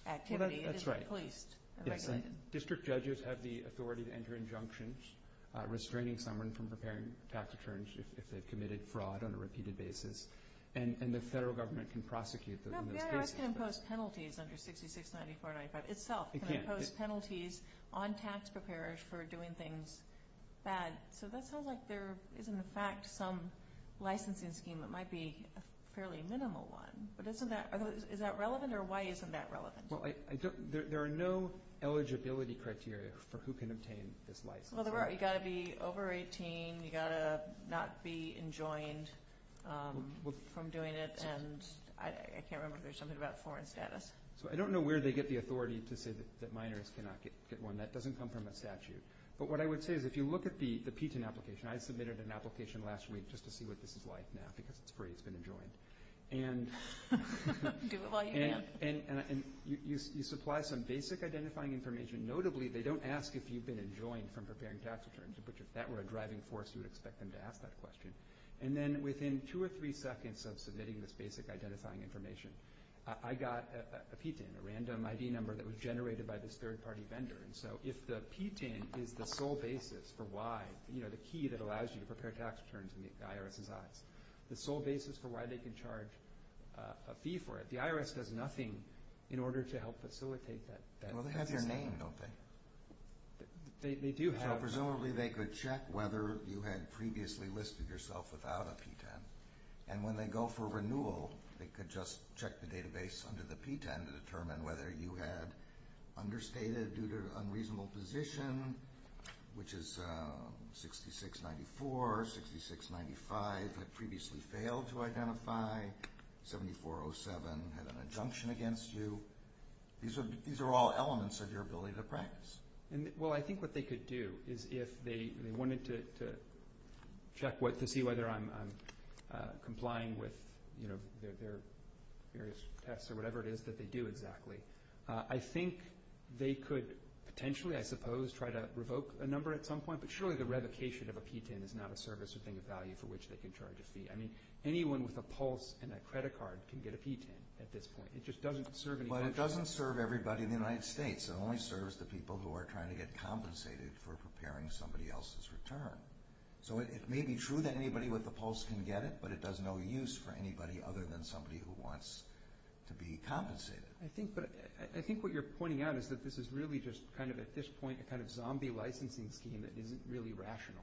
activity. It is policed and regulated. District judges have the authority to enter injunctions restraining someone from preparing tax returns if they've committed fraud on a repeated basis. And the federal government can prosecute those cases. But it can impose penalties under 6694 and 95 itself. It can. It can impose penalties on tax preparers for doing things bad. So that sounds like there is, in fact, some licensing scheme that might be a fairly minimal one. But is that relevant, or why isn't that relevant? Well, there are no eligibility criteria for who can obtain this license. Well, there are. You've got to be over 18. You've got to not be enjoined from doing it. And I can't remember if there's something about foreign status. So I don't know where they get the authority to say that minors cannot get one. That doesn't come from a statute. But what I would say is if you look at the PTIN application, I submitted an application last week just to see what this is like now because it's free, it's been enjoined. Do it while you can. And you supply some basic identifying information. Notably, they don't ask if you've been enjoined from preparing tax returns, which if that were a driving force, you would expect them to ask that question. And then within two or three seconds of submitting this basic identifying information, I got a PTIN, a random ID number that was generated by this third-party vendor. And so if the PTIN is the sole basis for why, you know, the key that allows you to prepare tax returns in the IRS's eyes, the sole basis for why they can charge a fee for it, the IRS does nothing in order to help facilitate that. Well, they have your name, don't they? They do have your name. So presumably they could check whether you had previously listed yourself without a PTIN. And when they go for renewal, they could just check the database under the PTIN to determine whether you had understated due to unreasonable position, which is 6694, 6695, had previously failed to identify, 7407 had an injunction against you. These are all elements of your ability to practice. Well, I think what they could do is if they wanted to check to see whether I'm complying with their various tests or whatever it is that they do exactly, I think they could potentially, I suppose, try to revoke a number at some point. But surely the revocation of a PTIN is not a service or thing of value for which they can charge a fee. I mean, anyone with a pulse and a credit card can get a PTIN at this point. It just doesn't serve any function. Well, it doesn't serve everybody in the United States. It only serves the people who are trying to get compensated for preparing somebody else's return. So it may be true that anybody with a pulse can get it, but it does no use for anybody other than somebody who wants to be compensated. I think what you're pointing out is that this is really just kind of, at this point, a kind of zombie licensing scheme that isn't really rational.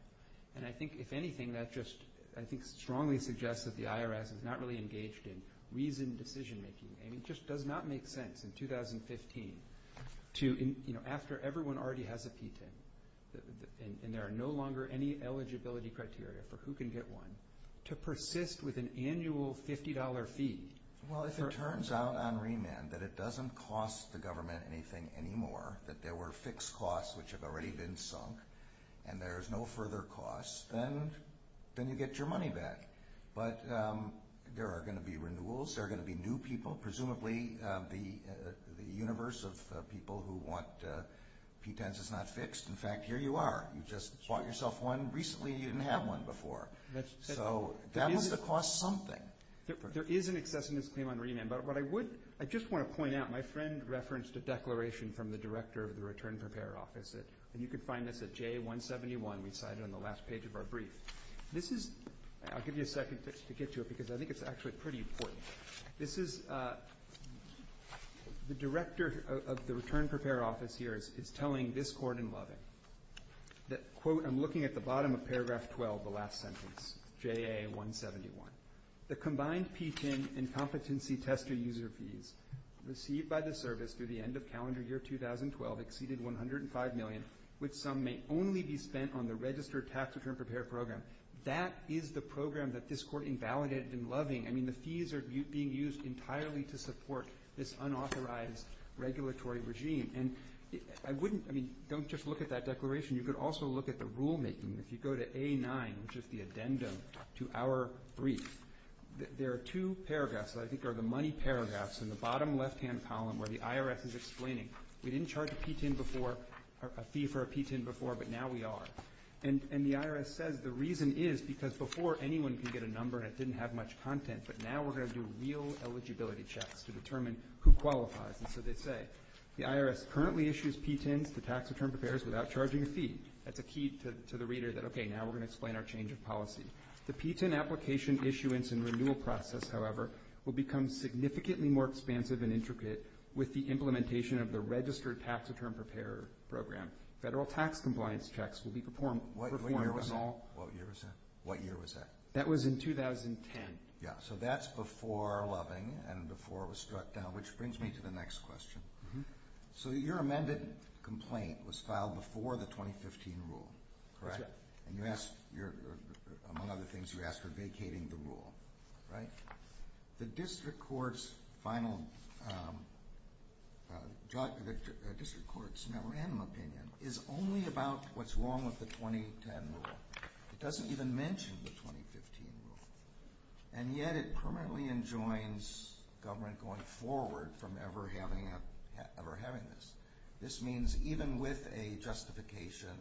And I think, if anything, that just, I think, strongly suggests that the IRS is not really engaged in reasoned decision-making. It just does not make sense in 2015 to, you know, after everyone already has a PTIN and there are no longer any eligibility criteria for who can get one, to persist with an annual $50 fee. Well, if it turns out on remand that it doesn't cost the government anything anymore, that there were fixed costs which have already been sunk and there's no further costs, then you get your money back. But there are going to be renewals, there are going to be new people, presumably the universe of people who want PTINs is not fixed. In fact, here you are. You just bought yourself one recently and you didn't have one before. So that must have cost something. There is an excessiveness claim on remand, but what I would, I just want to point out, my friend referenced a declaration from the director of the Return Prepare office, and you can find this at J171. We cite it on the last page of our brief. This is, I'll give you a second to get to it because I think it's actually pretty important. This is the director of the Return Prepare office here is telling this court in Loving that, quote, I'm looking at the bottom of paragraph 12, the last sentence, JA171. The combined PTIN and competency tester user fees received by the service through the end of calendar year 2012 exceeded $105 million, which some may only be spent on the registered tax return prepare program. That is the program that this court invalidated in Loving. I mean, the fees are being used entirely to support this unauthorized regulatory regime. And I wouldn't, I mean, don't just look at that declaration. You could also look at the rulemaking. If you go to A9, which is the addendum to our brief, there are two paragraphs that I think are the money paragraphs in the bottom left-hand column where the IRS is explaining. We didn't charge a PTIN before, a fee for a PTIN before, but now we are. And the IRS says the reason is because before anyone could get a number and it didn't have much content, but now we're going to do real eligibility checks to determine who qualifies. And so they say, the IRS currently issues PTINs to tax return preparers without charging a fee. That's a key to the reader that, okay, now we're going to explain our change of policy. The PTIN application issuance and renewal process, however, will become significantly more expansive and intricate with the implementation of the registered tax return preparer program. Federal tax compliance checks will be performed on all. What year was that? What year was that? That was in 2010. Yeah, so that's before Loving and before it was struck down, which brings me to the next question. So your amended complaint was filed before the 2015 rule, correct? That's right. And you asked, among other things, you asked for vacating the rule, right? The district court's final opinion is only about what's wrong with the 2010 rule. It doesn't even mention the 2015 rule, and yet it permanently enjoins government going forward from ever having this. This means even with a justification,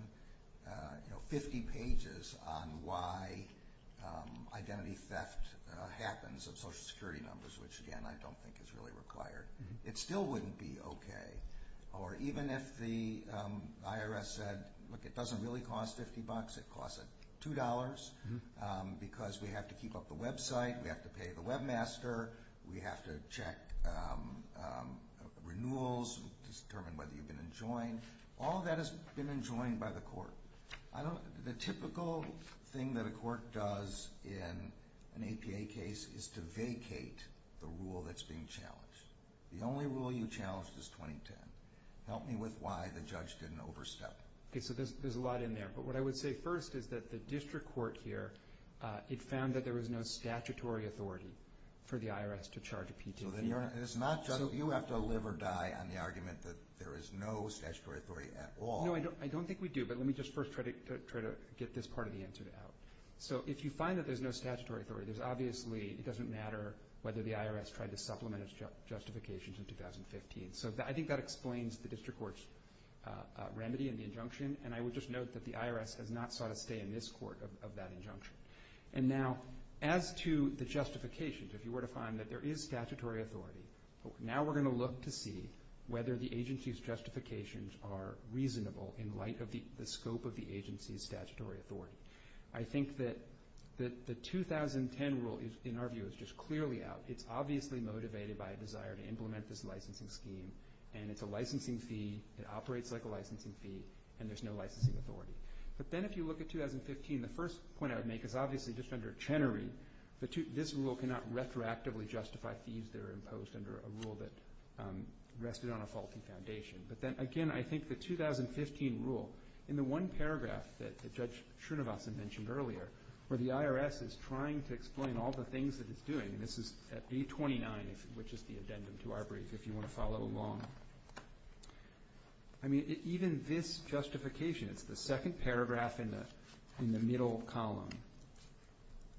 you know, 50 pages on why identity theft happens of Social Security numbers, which, again, I don't think is really required, it still wouldn't be okay. Or even if the IRS said, look, it doesn't really cost 50 bucks, it costs $2, because we have to keep up the website, we have to pay the webmaster, we have to check renewals, determine whether you've been enjoined. All of that has been enjoined by the court. The typical thing that a court does in an APA case is to vacate the rule that's being challenged. The only rule you challenged is 2010. Help me with why the judge didn't overstep. Okay, so there's a lot in there. But what I would say first is that the district court here, it found that there was no statutory authority for the IRS to charge a PT. So you have to live or die on the argument that there is no statutory authority at all. No, I don't think we do. But let me just first try to get this part of the answer out. So if you find that there's no statutory authority, obviously it doesn't matter whether the IRS tried to supplement its justifications in 2015. And I would just note that the IRS has not sought to stay in this court of that injunction. And now, as to the justifications, if you were to find that there is statutory authority, now we're going to look to see whether the agency's justifications are reasonable in light of the scope of the agency's statutory authority. I think that the 2010 rule, in our view, is just clearly out. It's obviously motivated by a desire to implement this licensing scheme, and it's a licensing fee, it operates like a licensing fee, and there's no licensing authority. But then if you look at 2015, the first point I would make is obviously just under Chenery, this rule cannot retroactively justify fees that are imposed under a rule that rested on a faulty foundation. But then, again, I think the 2015 rule, in the one paragraph that Judge Srinivasan mentioned earlier, where the IRS is trying to explain all the things that it's doing, and this is at v. 29, which is the addendum to our brief, if you want to follow along. I mean, even this justification, it's the second paragraph in the middle column,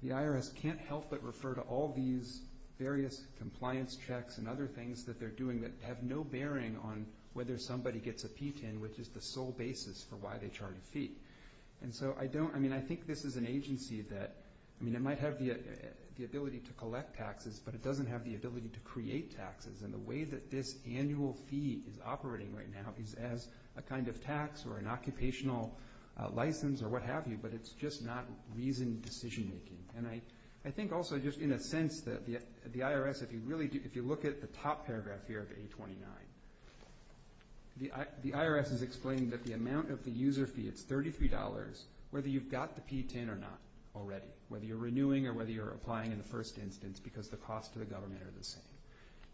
the IRS can't help but refer to all these various compliance checks and other things that they're doing that have no bearing on whether somebody gets a PTIN, which is the sole basis for why they charge a fee. And so I don't, I mean, I think this is an agency that, I mean, it might have the ability to collect taxes, but it doesn't have the ability to create taxes. And the way that this annual fee is operating right now is as a kind of tax or an occupational license or what have you, but it's just not reasoned decision-making. And I think also just in a sense that the IRS, if you look at the top paragraph here of v. 29, the IRS is explaining that the amount of the user fee, it's $33, whether you've got the PTIN or not already, whether you're renewing or whether you're applying in the first instance because the costs to the government are the same.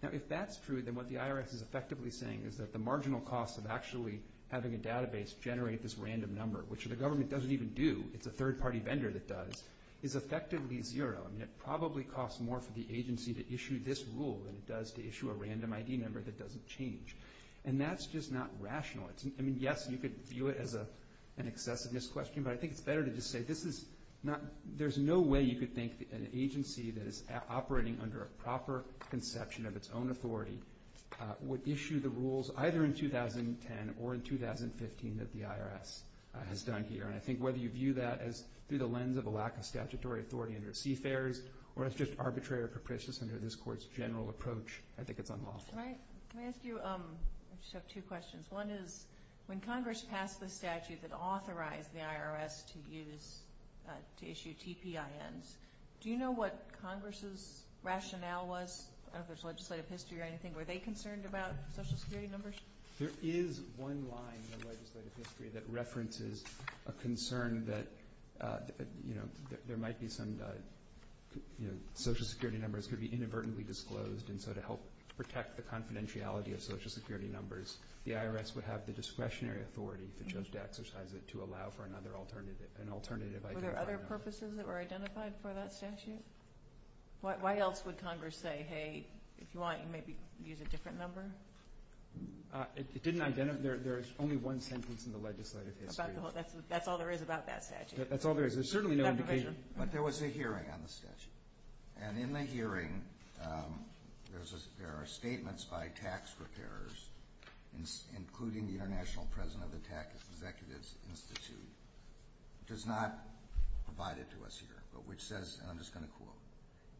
Now, if that's true, then what the IRS is effectively saying is that the marginal cost of actually having a database generate this random number, which the government doesn't even do, it's a third-party vendor that does, is effectively zero, and it probably costs more for the agency to issue this rule than it does to issue a random ID number that doesn't change. And that's just not rational. I mean, yes, you could view it as an excessiveness question, but I think it's better to just say this is not, there's no way you could think that an agency that is operating under a proper conception of its own authority would issue the rules either in 2010 or in 2015 that the IRS has done here. And I think whether you view that as through the lens of a lack of statutory authority under CFARES or as just arbitrary or capricious under this Court's general approach, I think it's unlawful. Can I ask you, I just have two questions. One is, when Congress passed the statute that authorized the IRS to use, to issue TPINs, do you know what Congress's rationale was? I don't know if there's legislative history or anything. Were they concerned about Social Security numbers? There is one line in the legislative history that references a concern that, you know, there might be some, you know, Social Security numbers could be inadvertently disclosed, and so to help protect the confidentiality of Social Security numbers, the IRS would have the discretionary authority to judge to exercise it to allow for another alternative. Were there other purposes that were identified for that statute? Why else would Congress say, hey, if you want, you can maybe use a different number? It didn't identify, there's only one sentence in the legislative history. That's all there is about that statute. That's all there is. There's certainly no indication. But there was a hearing on the statute. And in the hearing, there are statements by tax preparers, including the international president of the Tax Executives Institute, which is not provided to us here, but which says, and I'm just going to quote,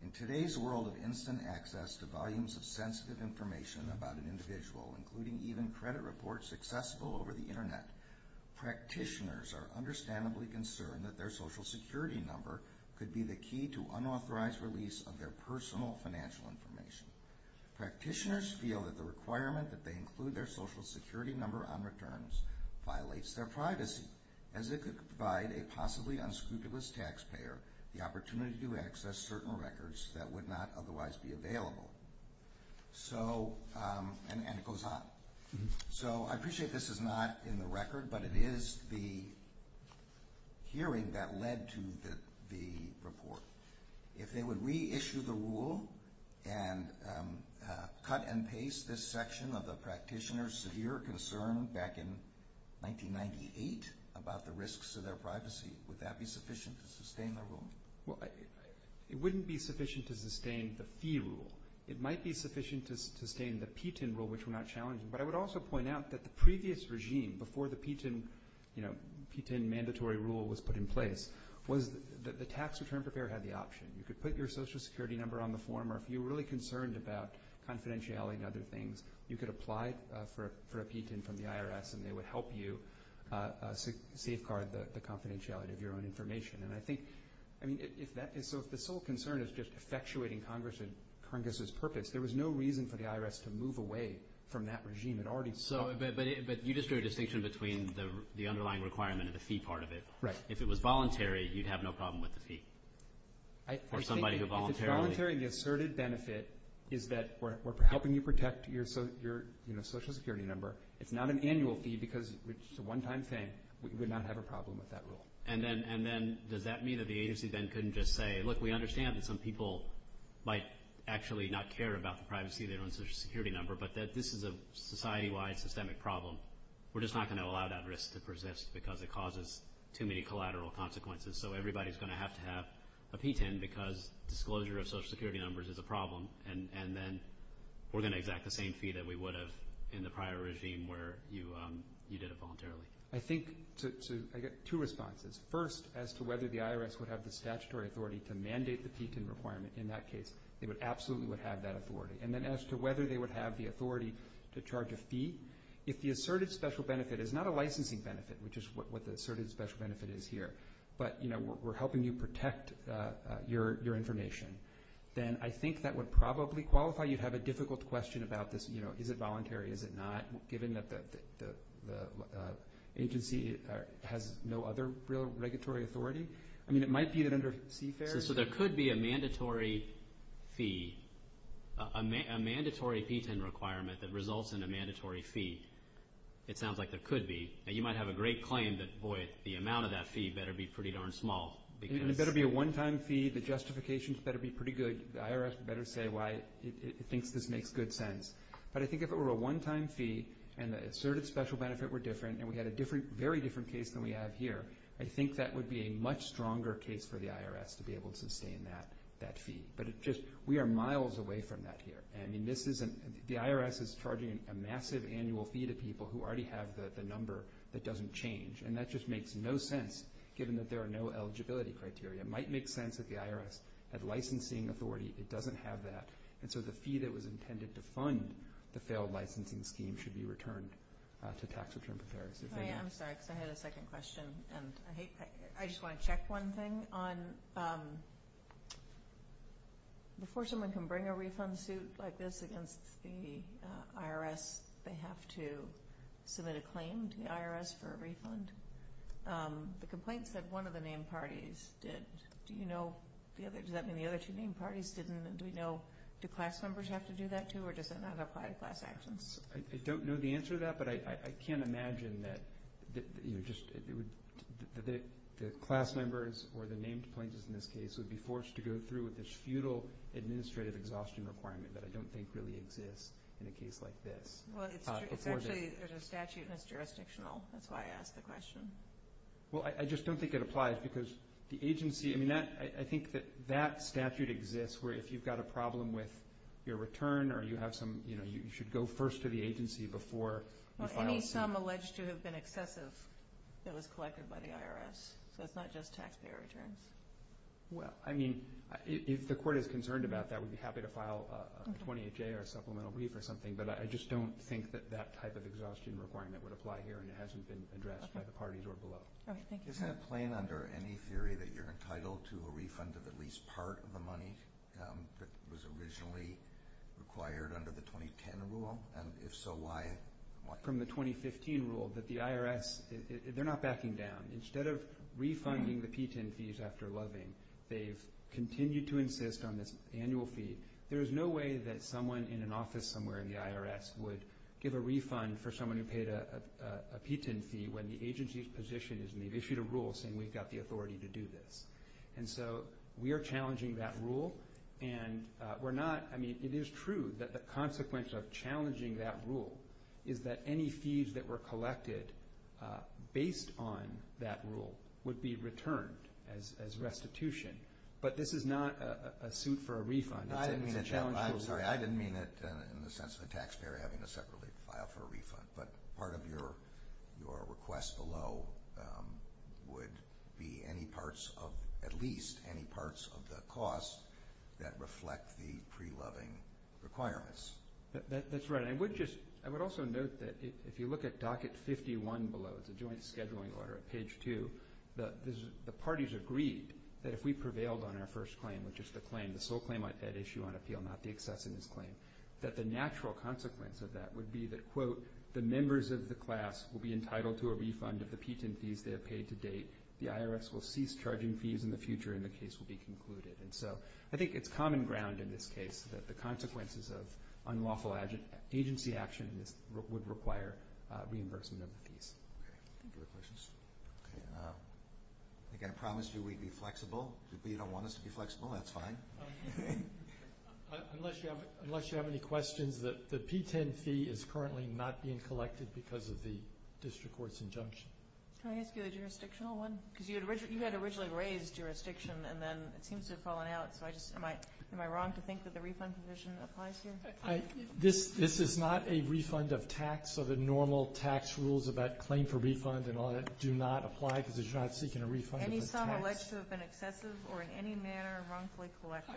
in today's world of instant access to volumes of sensitive information about an individual, including even credit reports accessible over the Internet, practitioners are understandably concerned that their Social Security number could be the key to unauthorized release of their personal financial information. Practitioners feel that the requirement that they include their Social Security number on returns violates their privacy, as it could provide a possibly unscrupulous taxpayer the opportunity to access certain records that would not otherwise be available. So, and it goes on. So I appreciate this is not in the record, but it is the hearing that led to the report. If they would reissue the rule and cut and paste this section of the practitioners' severe concern back in 1998 about the risks of their privacy, would that be sufficient to sustain their rule? Well, it wouldn't be sufficient to sustain the fee rule. It might be sufficient to sustain the PTIN rule, which we're not challenging. But I would also point out that the previous regime, before the PTIN mandatory rule was put in place, was that the tax return preparer had the option. You could put your Social Security number on the form, or if you were really concerned about confidentiality and other things, you could apply for a PTIN from the IRS, and they would help you safeguard the confidentiality of your own information. And I think, I mean, so if the sole concern is just effectuating Congress's purpose, there was no reason for the IRS to move away from that regime. But you just drew a distinction between the underlying requirement and the fee part of it. If it was voluntary, you'd have no problem with the fee. If it's voluntary, the asserted benefit is that we're helping you protect your Social Security number. It's not an annual fee because it's a one-time thing. We would not have a problem with that rule. And then does that mean that the agency then couldn't just say, look, we understand that some people might actually not care about the privacy of their own Social Security number, but that this is a society-wide systemic problem. We're just not going to allow that risk to persist because it causes too many collateral consequences. So everybody's going to have to have a PTIN because disclosure of Social Security numbers is a problem, and then we're going to exact the same fee that we would have in the prior regime where you did it voluntarily. I think I get two responses. First, as to whether the IRS would have the statutory authority to mandate the PTIN requirement in that case, they absolutely would have that authority. And then as to whether they would have the authority to charge a fee, if the asserted special benefit is not a licensing benefit, which is what the asserted special benefit is here, but we're helping you protect your information, then I think that would probably qualify. You'd have a difficult question about this. Is it voluntary? Is it not? Given that the agency has no other real regulatory authority? I mean, it might be that under CFARES – So there could be a mandatory fee, a mandatory PTIN requirement that results in a mandatory fee. It sounds like there could be. Now, you might have a great claim that, boy, the amount of that fee better be pretty darn small because – It better be a one-time fee. The justifications better be pretty good. The IRS better say why it thinks this makes good sense. But I think if it were a one-time fee and the asserted special benefit were different and we had a very different case than we have here, I think that would be a much stronger case for the IRS to be able to sustain that fee. But we are miles away from that here. The IRS is charging a massive annual fee to people who already have the number that doesn't change. And that just makes no sense given that there are no eligibility criteria. It might make sense if the IRS had licensing authority. It doesn't have that. And so the fee that was intended to fund the failed licensing scheme should be returned to tax return preparers. I am sorry because I had a second question. And I just want to check one thing on – before someone can bring a refund suit like this against the IRS, they have to submit a claim to the IRS for a refund. The complaint said one of the named parties did. Do you know – does that mean the other two named parties didn't? And do we know – do class members have to do that, too, or does that not apply to class actions? I don't know the answer to that, but I can't imagine that the class members or the named plaintiffs in this case would be forced to go through with this futile administrative exhaustion requirement that I don't think really exists in a case like this. Well, it's actually – there's a statute and it's jurisdictional. That's why I asked the question. Well, I just don't think it applies because the agency – I think that that statute exists where if you've got a problem with your return or you have some – you should go first to the agency before you file a suit. Well, any sum alleged to have been excessive that was collected by the IRS. So it's not just taxpayer returns. Well, I mean, if the court is concerned about that, we'd be happy to file a 28-J or a supplemental brief or something, but I just don't think that that type of exhaustion requirement would apply here and it hasn't been addressed by the parties or below. All right. Thank you. Isn't it plain under any theory that you're entitled to a refund of at least part of the money that was originally required under the 2010 rule? And if so, why? From the 2015 rule that the IRS – they're not backing down. Instead of refunding the PTIN fees after loving, they've continued to insist on this annual fee. There is no way that someone in an office somewhere in the IRS would give a refund for someone who paid a PTIN fee when the agency's position is they've issued a rule saying we've got the authority to do this. And so we are challenging that rule and we're not – I mean, it is true that the consequence of challenging that rule is that any fees that were collected based on that rule would be returned as restitution. But this is not a suit for a refund. I'm sorry. I didn't mean it in the sense of a taxpayer having to separately file for a refund, but part of your request below would be any parts of – at least any parts of the cost that reflect the pre-loving requirements. That's right. And I would just – I would also note that if you look at docket 51 below, it's a joint scheduling order at page two, the parties agreed that if we prevailed on our first claim, which is the claim, the sole claim on that issue on appeal, not the excessiveness claim, that the natural consequence of that would be that, quote, the members of the class will be entitled to a refund of the PTIN fees they have paid to date. The IRS will cease charging fees in the future and the case will be concluded. And so I think it's common ground in this case that the consequences of unlawful agency action would require reimbursement of the fees. Okay. Thank you for the questions. Okay. Again, I promised you we'd be flexible. If you don't want us to be flexible, that's fine. Unless you have any questions, the PTIN fee is currently not being collected because of the district court's injunction. Can I ask you a jurisdictional one? Because you had originally raised jurisdiction and then it seems to have fallen out, so I just – am I wrong to think that the refund position applies here? This is not a refund of tax, so the normal tax rules about claim for refund and all that do not apply because you're not seeking a refund of the tax. Any sum elects to have been excessive or in any manner wrongfully collected.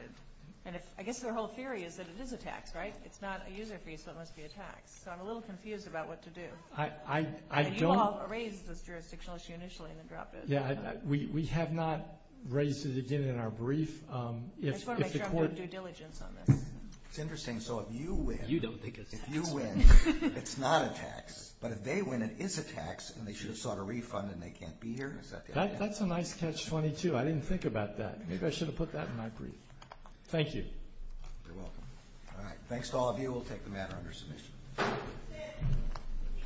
And I guess their whole theory is that it is a tax, right? It's not a user fee, so it must be a tax. So I'm a little confused about what to do. You all raised this jurisdictional issue initially and then dropped it. Yeah, we have not raised it again in our brief. I just want to make sure I'm doing due diligence on this. It's interesting. So if you win – You don't think it's a tax. If you win, it's not a tax. But if they win, it is a tax and they should have sought a refund and they can't be here? That's a nice catch-22. I didn't think about that. Maybe I should have put that in my brief. Thank you. You're welcome. All right. Thanks to all of you. We'll take the matter under submission.